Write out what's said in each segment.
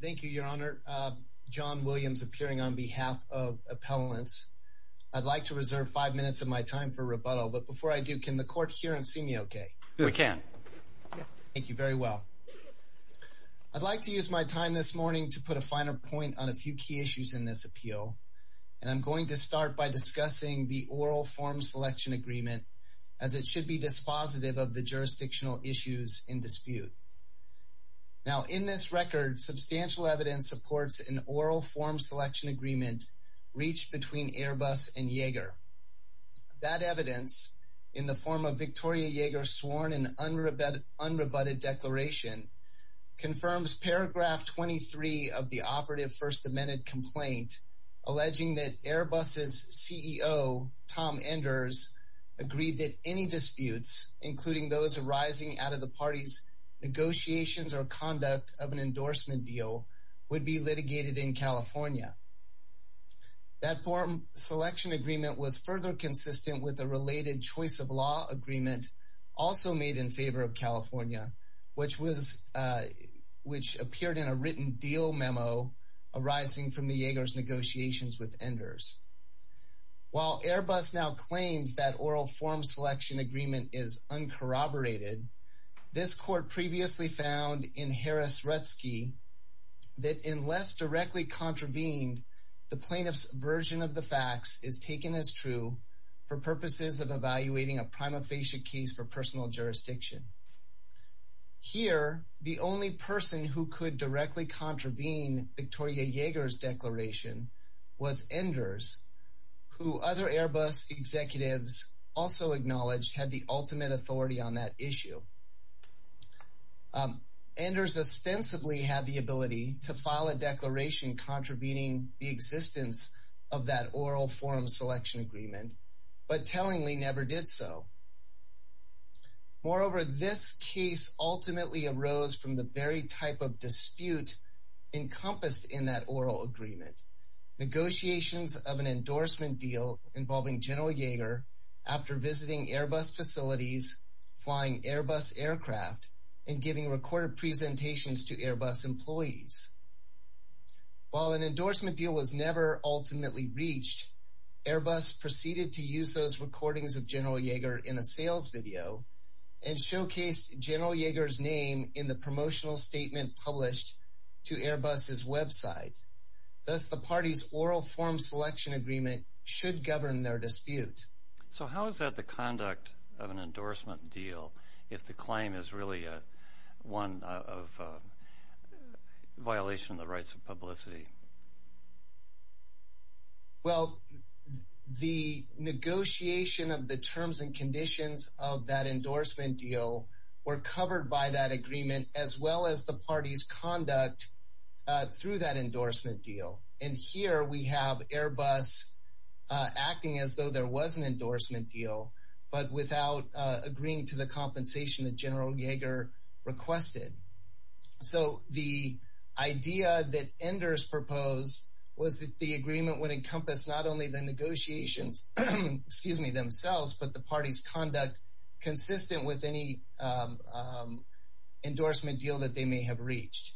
Thank you, Your Honor. John Williams appearing on behalf of appellants. I'd like to reserve five minutes of my time for rebuttal, but before I do, can the court hear and see me okay? We can. Thank you very well. I'd like to use my time this morning to put a finer point on a few key issues in this appeal, and I'm going to start by discussing the oral form selection agreement, as it should be dispositive of the jurisdictional issues in dispute. Now, in this record, substantial evidence supports an oral form selection agreement reached between Airbus and Yeager. That evidence, in the form of Victoria Yeager's sworn and unrebutted declaration, confirms paragraph 23 of the operative First Amendment complaint alleging that Airbus's CEO, Tom Enders, agreed that any disputes, including those arising out of the parties' negotiations or conduct of an endorsement deal, would be litigated in California. That form selection agreement was further consistent with a related choice of law agreement also made in favor of California, which appeared in a written deal memo arising from the Yeager's negotiations with Enders. While Airbus now claims that oral form selection agreement is uncorroborated, this court previously found in Harris-Retzke that unless directly contravened, the plaintiff's version of the facts is taken as true for purposes of evaluating a prima facie case for personal jurisdiction. Here, the only person who could directly contravene Victoria Yeager's declaration was Enders, who other Airbus executives also acknowledged had the ultimate authority on that issue. Enders ostensibly had the ability to file a declaration contravening the existence of that oral form selection agreement, but tellingly in that oral agreement. Negotiations of an endorsement deal involving General Yeager after visiting Airbus facilities, flying Airbus aircraft, and giving recorded presentations to Airbus employees. While an endorsement deal was never ultimately reached, Airbus proceeded to use those recordings of General Yeager in a sales video and showcased General Yeager's name in the promotional statement published to Airbus' website. Thus, the party's oral form selection agreement should govern their dispute. So how is that the conduct of an endorsement deal, if the claim is really one of violation of the rights of publicity? Well, the negotiation of the terms and conditions of that endorsement deal were covered by that agreement as well as the party's conduct through that endorsement deal. And here we have Airbus acting as though there was an endorsement deal, but without agreeing to the compensation that General Yeager requested. So the idea that Enders proposed was that the agreement would encompass not only the negotiations, excuse me, themselves, but the party's conduct consistent with any endorsement deal that they may have reached.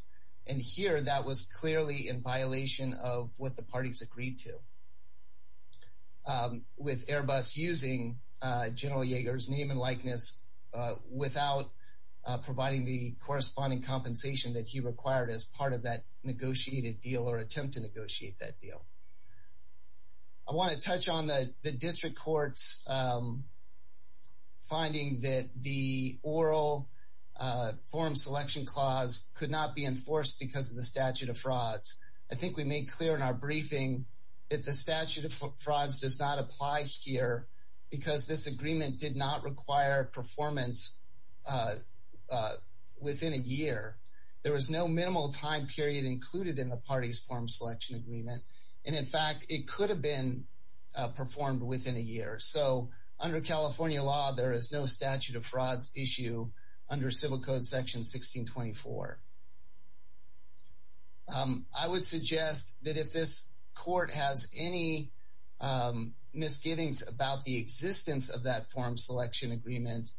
And here that was clearly in violation of what the parties agreed to. With Airbus using General Yeager's name and without providing the corresponding compensation that he required as part of that negotiated deal or attempt to negotiate that deal. I want to touch on the district court's finding that the oral form selection clause could not be enforced because of the statute of frauds. I think we made clear in our briefing that the statute of frauds does not apply here because this agreement did not require performance within a year. There was no minimal time period included in the party's form selection agreement. And in fact, it could have been performed within a year. So under California law, there is no statute of frauds issue under civil code section 1624. I would suggest that if this court has any misgivings about the existence of that form selection agreement,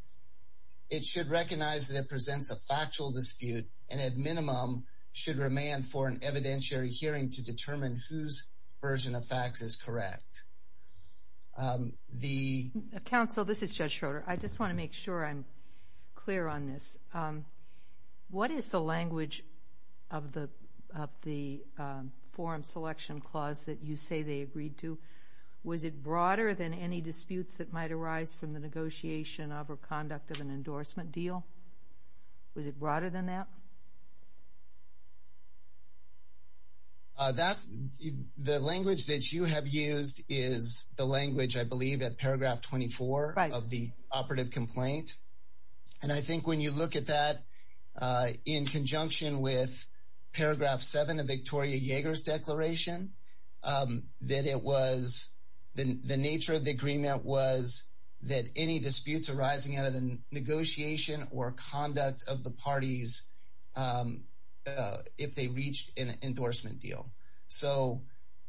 it should recognize that it presents a factual dispute and at minimum should remand for an evidentiary hearing to determine whose version of facts is correct. The council, this is Judge Schroeder. I just want to make sure I'm clear on this. What is the language of the form selection clause that you say they agreed to? Was it broader than any disputes that might arise from the negotiation of or conduct of an endorsement deal? Was it broader than that? The language that you have used is the language, I believe, at paragraph 24 of the operative complaint. And I think when you look at that in conjunction with paragraph seven of Victoria Yeager's declaration, that it was the nature of the agreement was that any disputes arising out of the negotiation or conduct of the parties if they reached an endorsement deal. So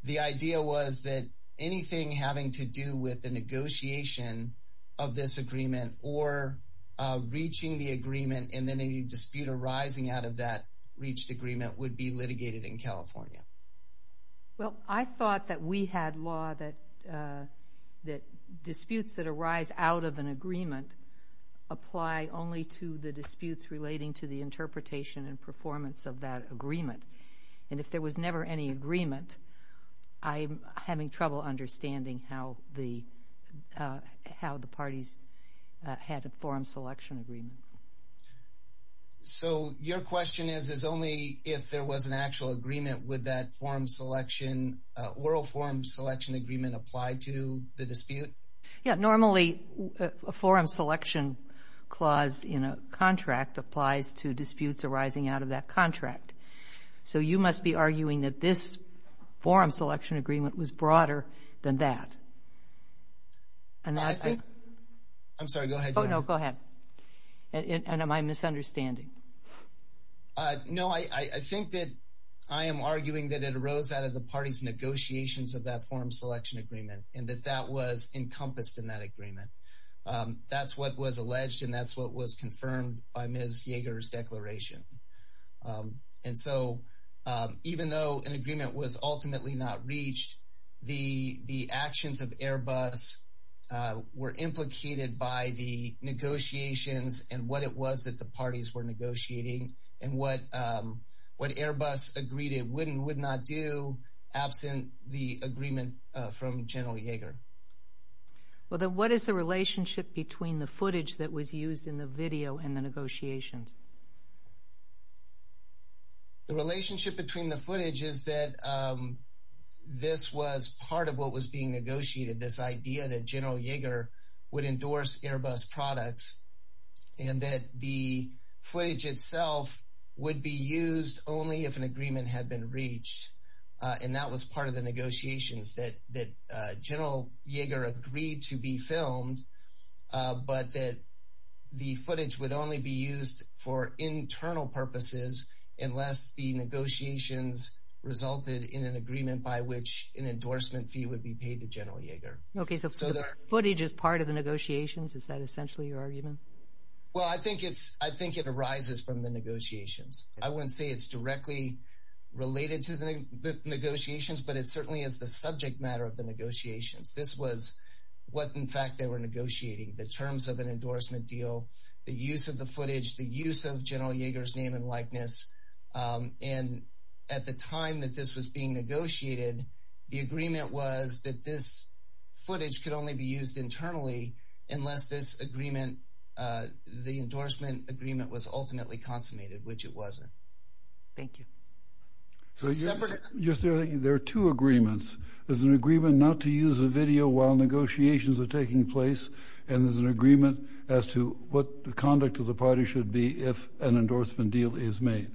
the idea was that anything having to do with the negotiation of this agreement or reaching the agreement and then a dispute arising out of that reached agreement would be litigated in California. Well, I thought that we had law that disputes that arise out of an agreement apply only to the disputes relating to the interpretation and performance of that agreement. And if there was never any agreement, I'm having trouble understanding how the parties had a forum selection agreement. So your question is, is only if there was an actual agreement with that forum selection, oral forum selection agreement applied to the dispute? Yeah, normally a forum selection clause in a contract applies to disputes arising out of that contract. So you must be arguing that this forum selection agreement was broader than that. I'm sorry, go ahead. Oh, no, go ahead. And am I misunderstanding? No, I think that I am arguing that it arose out of the party's negotiations of that forum selection agreement and that that was encompassed in that agreement. That's what was alleged and that's what was confirmed by Ms. Yeager's declaration. And so even though an agreement was ultimately not reached, the actions of Airbus were implicated by the negotiations and what it was that the parties were negotiating and what Airbus agreed it would and would not do absent the agreement from General Yeager. Well, then what is the relationship between the footage that was used in the video and the negotiations? The relationship between the footage is that this was part of what was being negotiated, this idea that General Yeager would endorse Airbus products and that the footage itself would be used only if an agreement had been reached. And that was part of the negotiations that General Yeager agreed to be filmed, but that the footage would only be used for internal purposes unless the negotiations resulted in an agreement by which an endorsement fee would be paid to General Yeager. Okay, so the footage is part of the negotiations? Is that essentially your argument? Well, I think it arises from the negotiations. I wouldn't say it's directly related to the subject matter of the negotiations. This was what, in fact, they were negotiating, the terms of an endorsement deal, the use of the footage, the use of General Yeager's name and likeness. And at the time that this was being negotiated, the agreement was that this footage could only be used internally unless this agreement, the endorsement agreement was ultimately consummated, which it wasn't. Thank you. So you're saying there are two agreements. There's an agreement not to use the video while negotiations are taking place, and there's an agreement as to what the conduct of the party should be if an endorsement deal is made.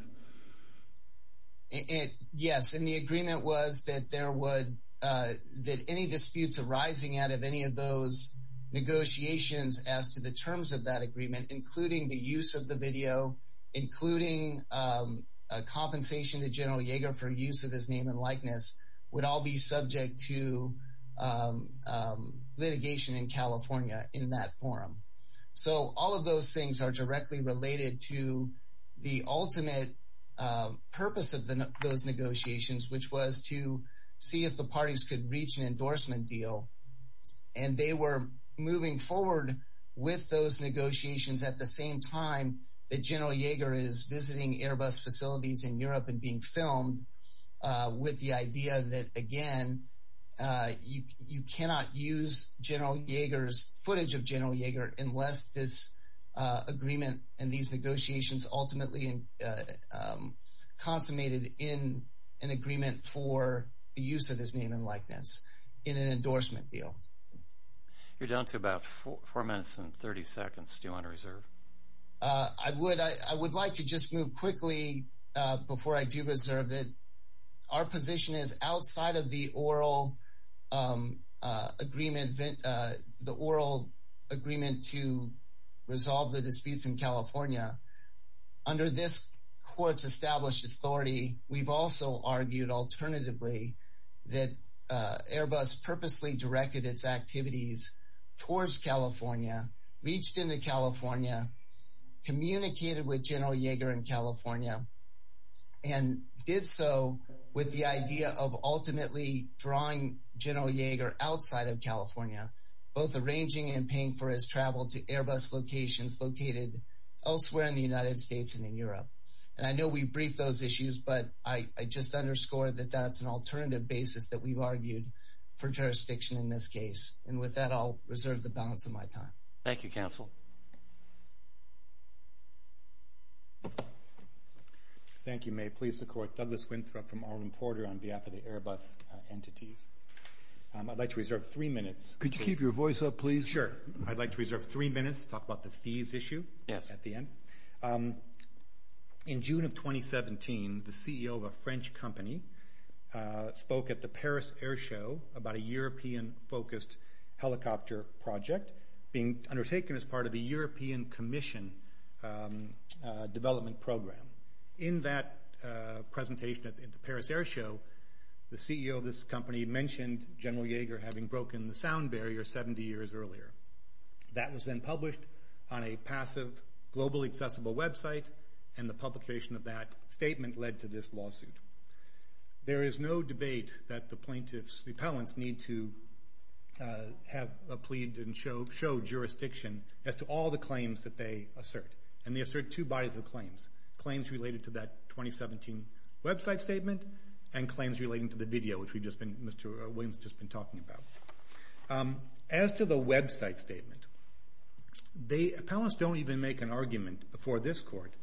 Yes, and the agreement was that there would, that any disputes arising out of any of those negotiations as to the terms of that agreement, including the use of the video, including a compensation to General Yeager for use of his name and likeness, would all be subject to litigation in California in that forum. So all of those things are directly related to the ultimate purpose of those negotiations, which was to see if the parties could reach an endorsement deal. And they were moving forward with those negotiations at the same time that General Yeager is visiting Airbus facilities in Europe and being filmed with the idea that, again, you cannot use General Yeager's footage of General Yeager unless this agreement and these negotiations ultimately consummated in an agreement for the use of his name and likeness in an endorsement deal. You're down to about four minutes and 30 seconds. Do you want to reserve? I would. I would like to just move quickly before I do reserve that our position is outside of the oral agreement, the oral agreement to resolve the disputes in California. Under this court's established authority, we've also argued alternatively that Airbus purposely directed its activities towards California, reached into California, communicated with General Yeager in California, and did so with the idea of ultimately drawing General Yeager outside of California, both arranging and paying for his travel to Airbus locations located elsewhere in the United States and in Europe. And I know we briefed those issues, but I just underscore that that's an alternative basis that we've argued for jurisdiction in this case. And with that, I'll reserve the balance of my time. Thank you, counsel. Thank you, May. Please support Douglas Winthrop from Arlen Porter on behalf of the Airbus entities. I'd like to reserve three minutes. Could you keep your voice up, please? Sure. I'd like to reserve three minutes to talk about the fees issue at the end. In June of 2017, the CEO of a French company spoke at the Paris Air Show about a European-focused helicopter project being undertaken as part of the European Commission development program. In that presentation at the Paris Air Show, the CEO of this company mentioned General Yeager having broken the sound barrier 70 years earlier. That was then published on led to this lawsuit. There is no debate that the plaintiffs, the appellants, need to have a plea and show jurisdiction as to all the claims that they assert. And they assert two bodies of claims, claims related to that 2017 website statement and claims relating to the video which Mr. Williams has just been talking about. As to the website statement, the appellants don't even make an argument before this court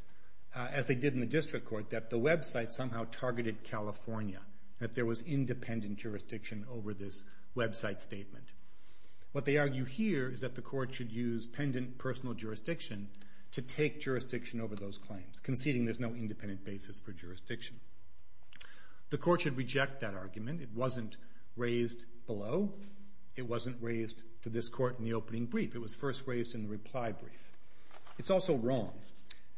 as they did in the district court that the website somehow targeted California, that there was independent jurisdiction over this website statement. What they argue here is that the court should use pendant personal jurisdiction to take jurisdiction over those claims, conceding there's no independent basis for jurisdiction. The court should reject that argument. It wasn't raised below. It wasn't raised to this point.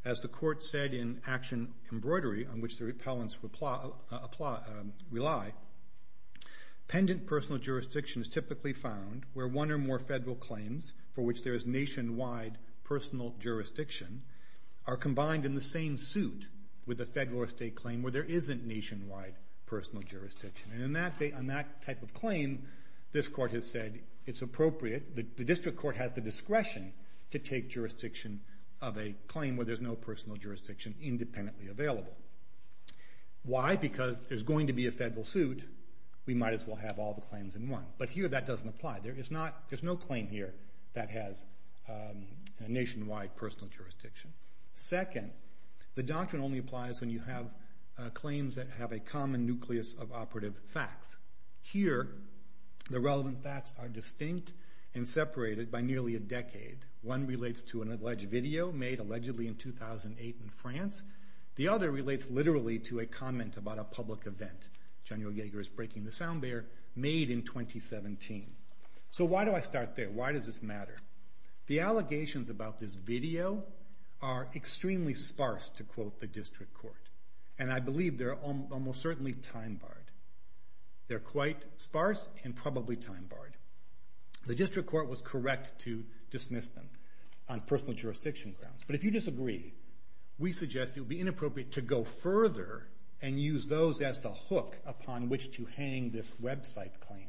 The court said in action embroidery on which the appellants rely, pendant personal jurisdiction is typically found where one or more federal claims for which there is nationwide personal jurisdiction are combined in the same suit with a federal or state claim where there isn't nationwide personal jurisdiction. And on that type of claim, this court has said it's appropriate, the district court has the discretion to take jurisdiction of a claim where there's no personal jurisdiction independently available. Why? Because there's going to be a federal suit, we might as well have all the claims in one. But here that doesn't apply. There is not, there's no claim here that has nationwide personal jurisdiction. Second, the doctrine only applies when you have claims that have a common nucleus of operative facts. Here, the relevant facts are distinct and separated by nearly a decade. One relates to an alleged video made allegedly in 2008 in France. The other relates literally to a comment about a public event, General Yeager is breaking the sound barrier, made in 2017. So why do I start there? Why does this matter? The allegations about this video are extremely sparse to quote the district court. And I believe they're almost certainly time barred. They're quite sparse and probably time barred. The district court was correct to dismiss them on personal jurisdiction grounds. But if you disagree, we suggest it would be inappropriate to go further and use those as the hook upon which to hang this website claim,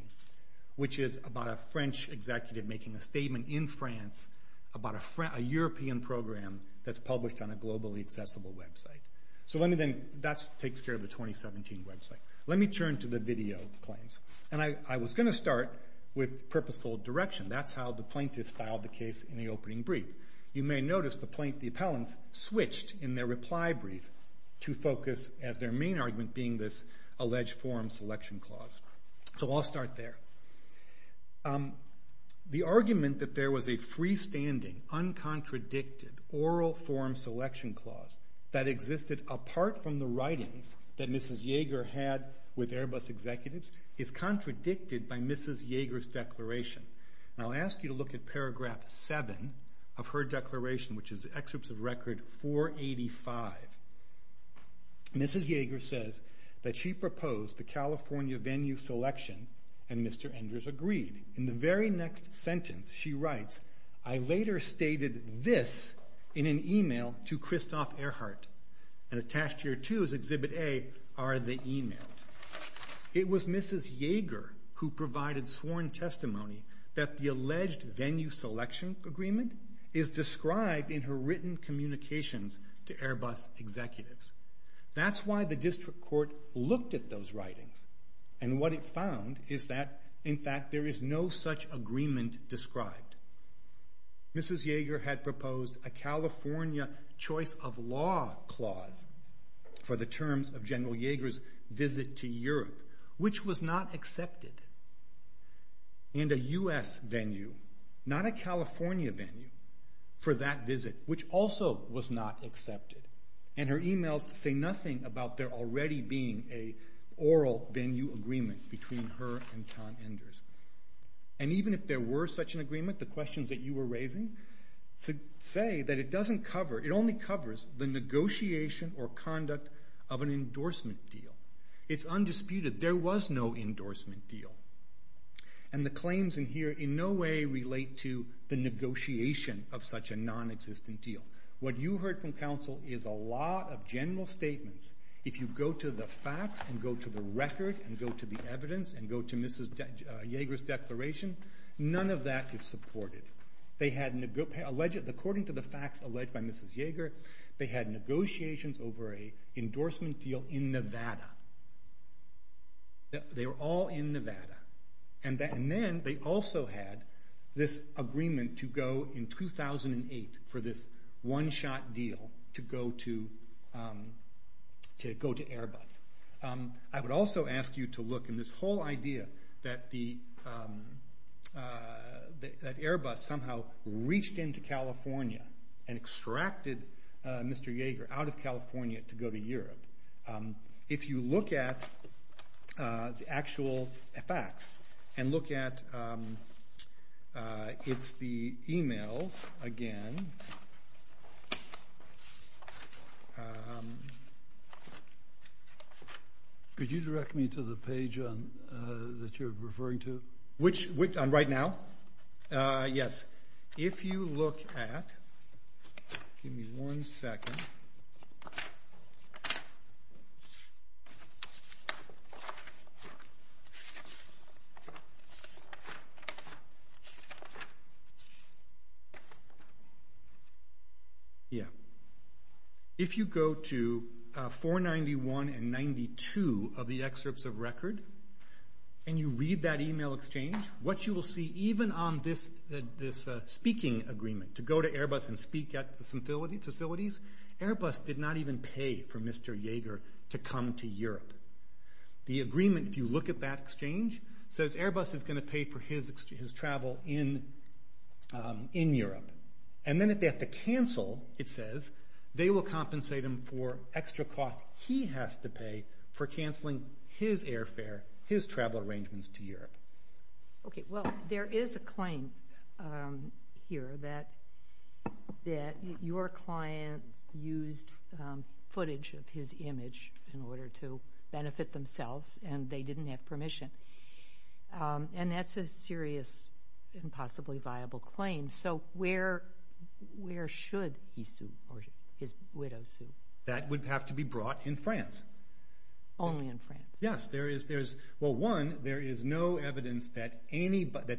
which is about a French executive making a statement in France about a European program that's published on a globally accessible website. So let me then, that takes care of the 2017 website. Let me turn to the video claims. And I was going to start with purposeful direction. That's how the plaintiffs filed the case in the opening brief. You may notice the plaintiff, the appellants switched in their reply brief to focus as their main argument being this alleged forum selection clause. So I'll start there. The argument that there was a freestanding, uncontradicted oral forum selection clause that existed apart from the writings that Mrs. Yeager had with Airbus executives is contradicted by Mrs. Yeager's declaration. And I'll ask you to look at paragraph seven of her declaration, which is excerpts of record 485. Mrs. Yeager says that she proposed the California venue selection and Mr. Enders agreed. In the very next sentence, she writes, I later stated this in an email to Christoph Ehrhardt. And attached here too is exhibit A are the emails. It was Mrs. Yeager who provided sworn testimony that the alleged venue selection agreement is described in her written communications to Airbus executives. That's why the district court looked at those writings. And what it found is that in fact there is no such agreement described. Mrs. Yeager had proposed a California choice of law clause for the terms of General Exhibit to Europe, which was not accepted. And a U.S. venue, not a California venue, for that visit, which also was not accepted. And her emails say nothing about there already being a oral venue agreement between her and Tom Enders. And even if there were such an agreement, the questions that you were raising say that it doesn't cover, it only covers the negotiation or conduct of an endorsement deal. It's undisputed there was no endorsement deal. And the claims in here in no way relate to the negotiation of such a non-existent deal. What you heard from counsel is a lot of general statements. If you go to the facts and go to the record and go to the evidence and go to Mrs. Yeager's declaration, none of that is supported. According to the facts alleged by Mrs. Yeager, they had negotiations over an endorsement deal in Nevada. They were all in Nevada. And then they also had this agreement to go in 2008 for this one-shot deal to go to Airbus. I would also ask you to look in this whole idea that Airbus somehow reached into California and extracted Mr. Yeager out of California to go to Europe. If you look at the actual facts and look at the emails again, could you direct me to the past? Right now? Yes. If you look at, if you go to 491 and 92 of the excerpts of records, and you read that email exchange, what you will see even on this speaking agreement, to go to Airbus and speak at the facilities, Airbus did not even pay for Mr. Yeager to come to Europe. The agreement, if you look at that exchange, says Airbus is going to pay for his travel in Europe. And then if they have to cancel, it says, they will compensate him for extra costs he has to pay for canceling his airfare, his travel arrangements to Europe. There is a claim here that your client used footage of his image in order to benefit themselves and they didn't have permission. And that's a serious and possibly viable claim. So where should he sue, or his widow sue? That would have to be brought in France. Only in France? Yes. Well, one, there is no evidence that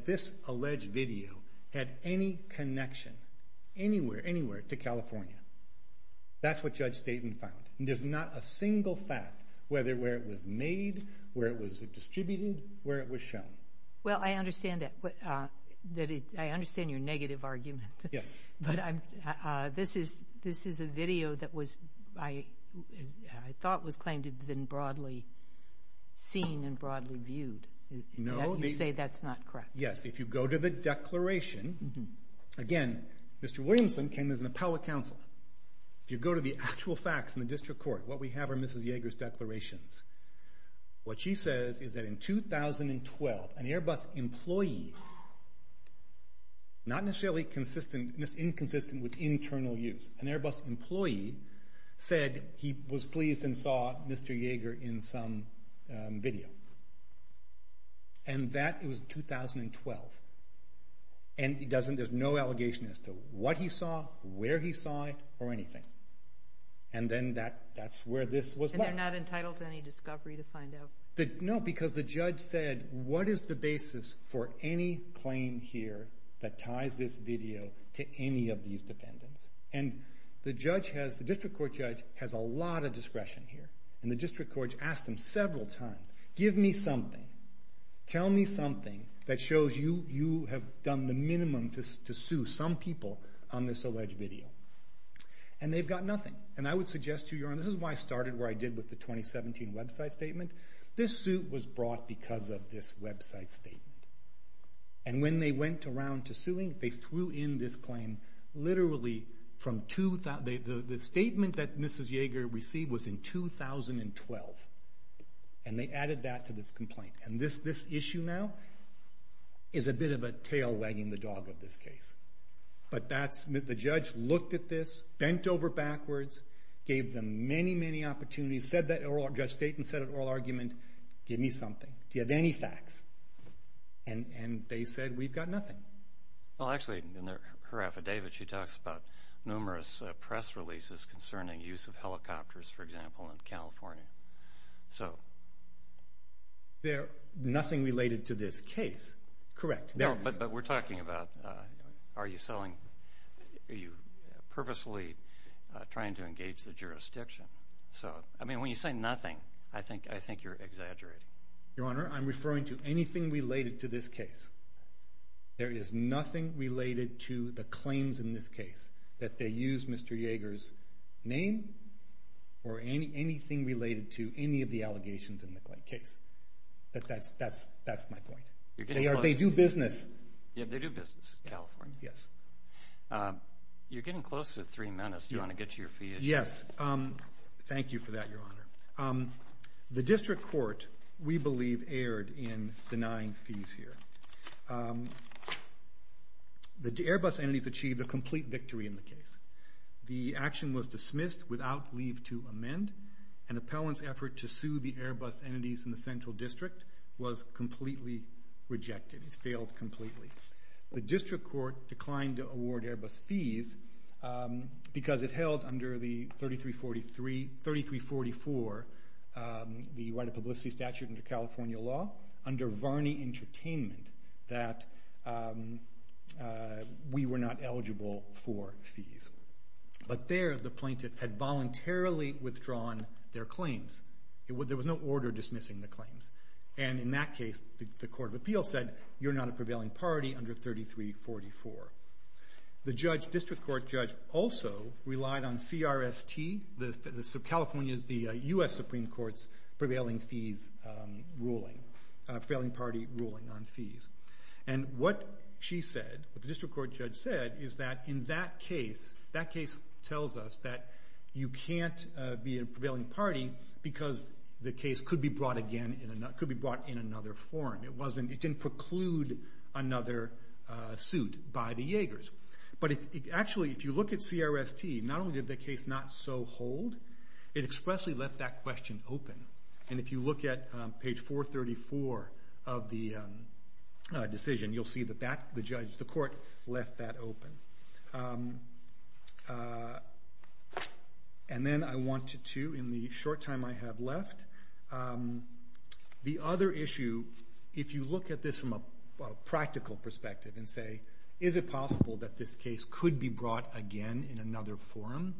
this alleged video had any connection anywhere to California. That's what Judge Dayton found. And there's not a single fact, whether where it was made, where it was distributed, where it was shown. Well, I understand that. I understand your negative argument. Yes. But this is a video that I thought was claimed to have been broadly seen and broadly viewed. No. You say that's not correct. Yes. If you go to the declaration, again, Mr. Williamson came as an appellate counsel. If you go to the actual facts in the district court, what we have are Mrs. Yeager's declarations. What she says is that in 2012, an Airbus employee, not necessarily inconsistent with internal use, an Airbus employee said he was pleased and saw Mr. Yeager in some video. And that was 2012. And there's no allegation as to what he saw, where he saw it, or anything. And then that's where this was left. And they're not entitled to any discovery to find out? No, because the judge said, what is the basis for any claim here that ties this video to any of these defendants? And the district court judge has a lot of discretion here. And the district court judge asked him several times, give me something. Tell me something that shows you have done the minimum to sue some people on this alleged video. And they've got nothing. And I would suggest to you, this is why I started where I did with the 2017 website statement. This suit was brought because of this website statement. And when they went around to suing, they threw in this claim literally from, the statement that Mrs. Yeager received was in 2012. And they added that to this complaint. And this issue now is a bit of a tail wagging the dog of this case. But the judge looked at this, bent over backwards, gave them many, many opportunities, said that oral, Judge Staten said an oral argument, give me something. Do you have any facts? And they said, we've got nothing. Well, actually, in her affidavit, she talks about numerous press releases concerning use of helicopters, for example, in California. There's nothing related to this case. Correct. But we're talking about, are you purposely trying to engage the jurisdiction? So, I mean, when you say nothing, I think you're exaggerating. Your Honor, I'm referring to anything related to this case. There is nothing related to the claims in this case that they use Mr. Yeager's name or anything related to any of the allegations in the case. That's my point. They do business. They do business in California. Yes. You're getting close to three minutes. Do you want to get to your fee issue? Yes. Thank you for that, Your Honor. The district court, we believe, erred in denying fees here. The Airbus entities achieved a complete victory in the case. The action was dismissed without leave to amend. An appellant's effort to sue the Airbus entities in the Central District was completely rejected. It failed completely. The district court declined to award Airbus fees because it held under the 3344, the right of publicity statute under California law, under Varney Entertainment, that we were not eligible for fees. But there, the plaintiff had voluntarily withdrawn their claims. There was no order dismissing the claims. And in that case, the Court of Appeals said, you're not a prevailing party under 3344. The district court judge also relied on CRST, California's, the U.S. Supreme Court's prevailing fees ruling. Prevailing party ruling on fees. And what she said, what the district court judge said, is that in that case, that case tells us that you can't be a prevailing party because the case could be brought in another form. It didn't preclude another suit by the Yeagers. But actually, if you look at CRST, not only did the case not so hold, it expressly left that question open. And if you look at page 434 of the decision, you'll see that the court left that open. And then I wanted to, in the short time I have left, the other issue, if you look at this from a practical perspective and say, is it possible that this case could be brought again in another form?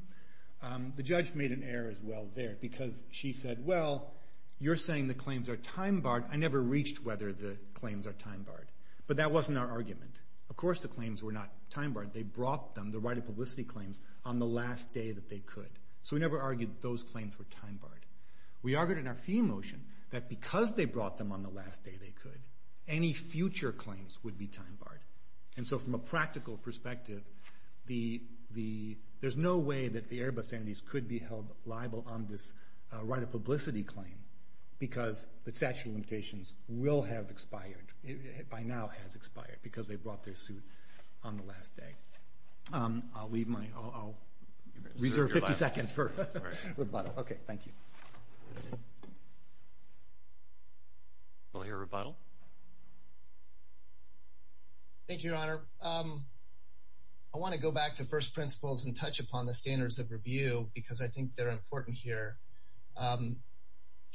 The judge made an error as well there because she said, well, you're saying the claims are time barred. I never reached whether the claims are time barred. But that wasn't our argument. Of course, the claims were not time barred. They brought them, the right of publicity claims, on the last day that they could. So we never argued those claims were time barred. We argued in our fee motion that because they brought them on the last day they could, any future claims would be time barred. And so from a practical perspective, there's no way that the Airbus entities could be held liable on this right of publicity claim because the statute of limitations will have expired, by now has expired, because they brought their suit on the last day. I'll reserve 50 seconds for rebuttal. Okay, thank you. I want to go back to first principles and touch upon the standards of review because I think they're important here.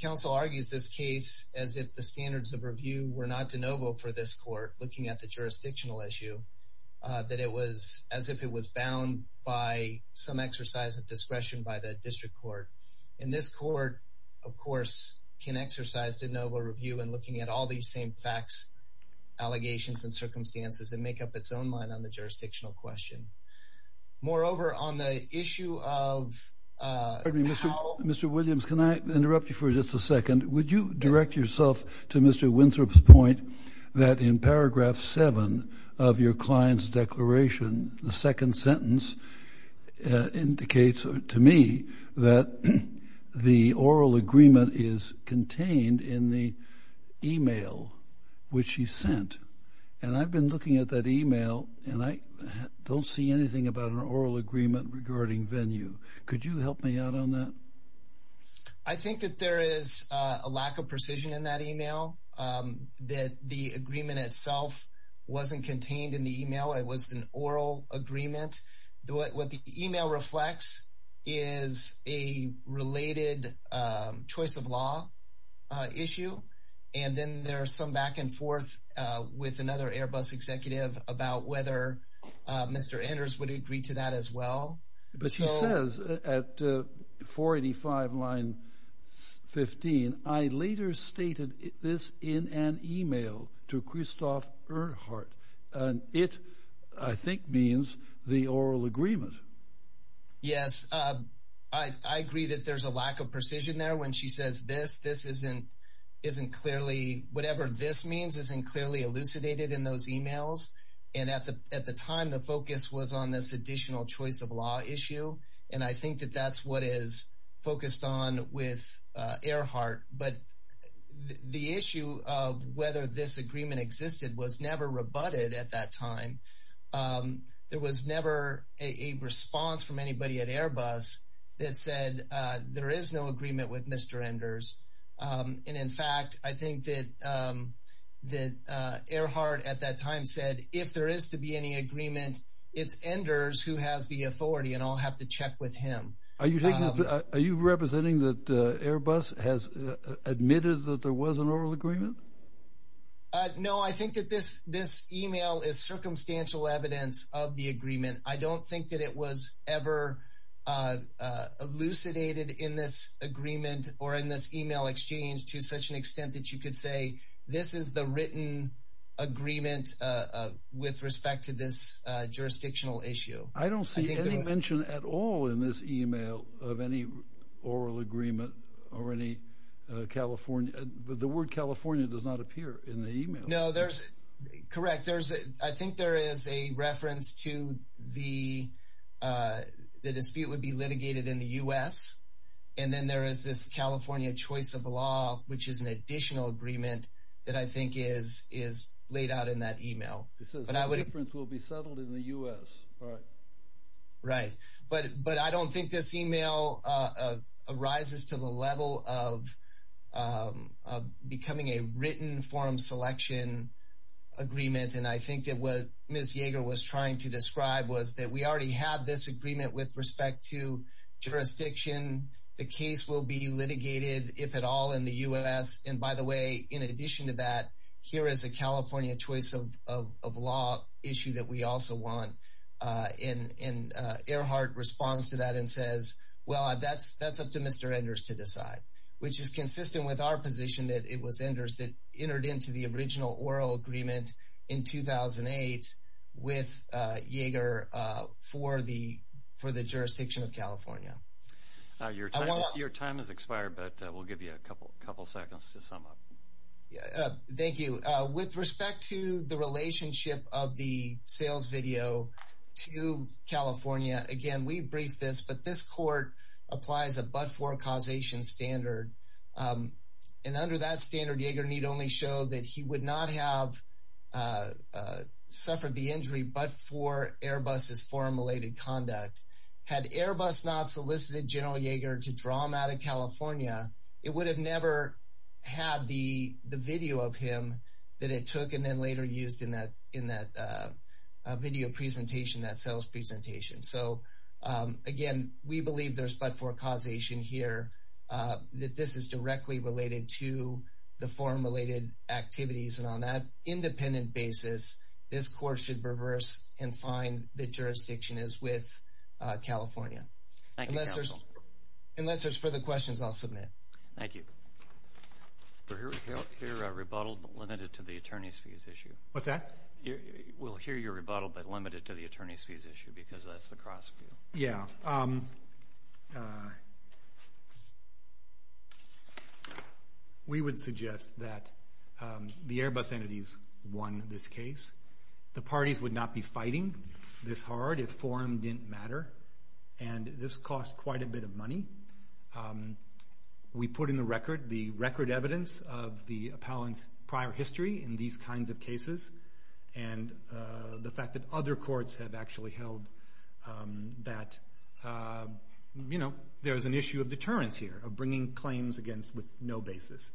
Council argues this case as if the standards of review were not de novo for this court looking at the jurisdictional issue, that it was as if it was bound by some standards. This court, of course, can exercise de novo review in looking at all these same facts, allegations, and circumstances and make up its own mind on the jurisdictional question. Moreover, on the issue of how... Mr. Williams, can I interrupt you for just a second? Would you direct yourself to Mr. Winthrop's point that in paragraph seven of your client's declaration, the second sentence indicates to me that the oral agreement is contained in the email which he sent. And I've been looking at that email and I don't see anything about an oral agreement regarding venue. Could you help me out on that? I think that there is a lack of precision in that email, that the agreement itself wasn't contained in the email. It was an oral agreement. What the email reflects is a related choice of law issue. And then there are some back and forth with another Airbus executive about whether Mr. Anders would agree to that as well. But she says at 485 line 15, I later stated this in an email to Christoph Erhardt. And it, I think, means the oral agreement. Yes, I agree that there's a lack of precision there when she says this. This isn't clearly, whatever this means isn't clearly elucidated in those emails. And at the time, the focus was on this additional choice of law issue. And I think that that's what is focused on with Erhardt. But the issue of whether this agreement existed was never rebutted at that time. There was never a response from anybody at Airbus that said there is no agreement with Mr. Anders. And in fact, I who has the authority and I'll have to check with him. Are you taking, are you representing that Airbus has admitted that there was an oral agreement? No, I think that this this email is circumstantial evidence of the agreement. I don't think that it was ever elucidated in this agreement or in this email exchange to such an extent that you could this is the written agreement with respect to this jurisdictional issue. I don't see any mention at all in this email of any oral agreement or any California. The word California does not appear in the email. No, there's correct. There's I think there is a reference to the dispute would be litigated in the U.S. And then there is this California choice of law, which is an additional agreement that I think is, is laid out in that email. It says no difference will be settled in the U.S. Right. But, but I don't think this email arises to the level of becoming a written forum selection agreement. And I think that what Ms. Yeager was trying to the case will be litigated if at all in the U.S. And by the way, in addition to that, here is a California choice of law issue that we also want. And Earhart responds to that and says, well, that's that's up to Mr. Enders to decide, which is consistent with our position that it was Enders that entered into the original oral agreement in 2008 with Yeager for the for the jurisdiction of California. Now, your time is expired, but we'll give you a couple of seconds to sum up. Thank you. With respect to the relationship of the sales video to California, again, we briefed this, but this court applies a but for causation standard. And under that standard, Yeager need only show that he would not have suffered the injury but for Airbus' foreign related conduct. Had Airbus not solicited General Yeager to draw him out of California, it would have never had the the video of him that it took and then later used in that in that video presentation, that sales presentation. So, again, we believe there's but for causation here, that this is directly related to the foreign related activities. And on that independent basis, this court should reverse and find the jurisdiction is with California. Thank you. Unless there's further questions, I'll submit. Thank you. We'll hear your rebuttal, but limited to the attorney's fees issue. What's that? We'll hear your rebuttal, but limited to the attorney's fees issue because that's the cross. Yeah. We would suggest that the Airbus entities won this case. The parties would not be fighting this hard if forum didn't matter. And this cost quite a bit of money. We put in the record the record evidence of the appellant's prior history in these kinds of cases and the fact that other courts have actually held that, you know, there's an issue of deterrence here of bringing claims against with no basis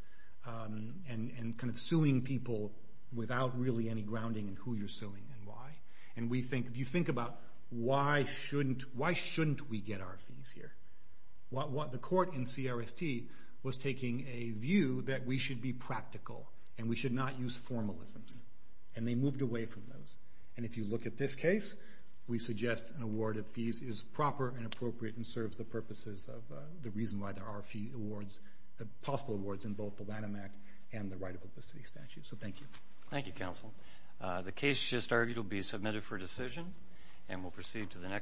and kind of suing people without really any grounding in who you're suing and why. And we think if you think about why shouldn't, why shouldn't we get our fees here? What the court in CRST was taking a view that we should be practical and we should not use formalisms. And they moved away from those. And if you look at this case, we suggest an award of fees is proper and appropriate and serves the purposes of the reason why there are possible awards in both the Lanham Act and the right of publicity statute. So thank you. Thank you, counsel. The case just argued will be submitted for decision and we'll proceed to the next.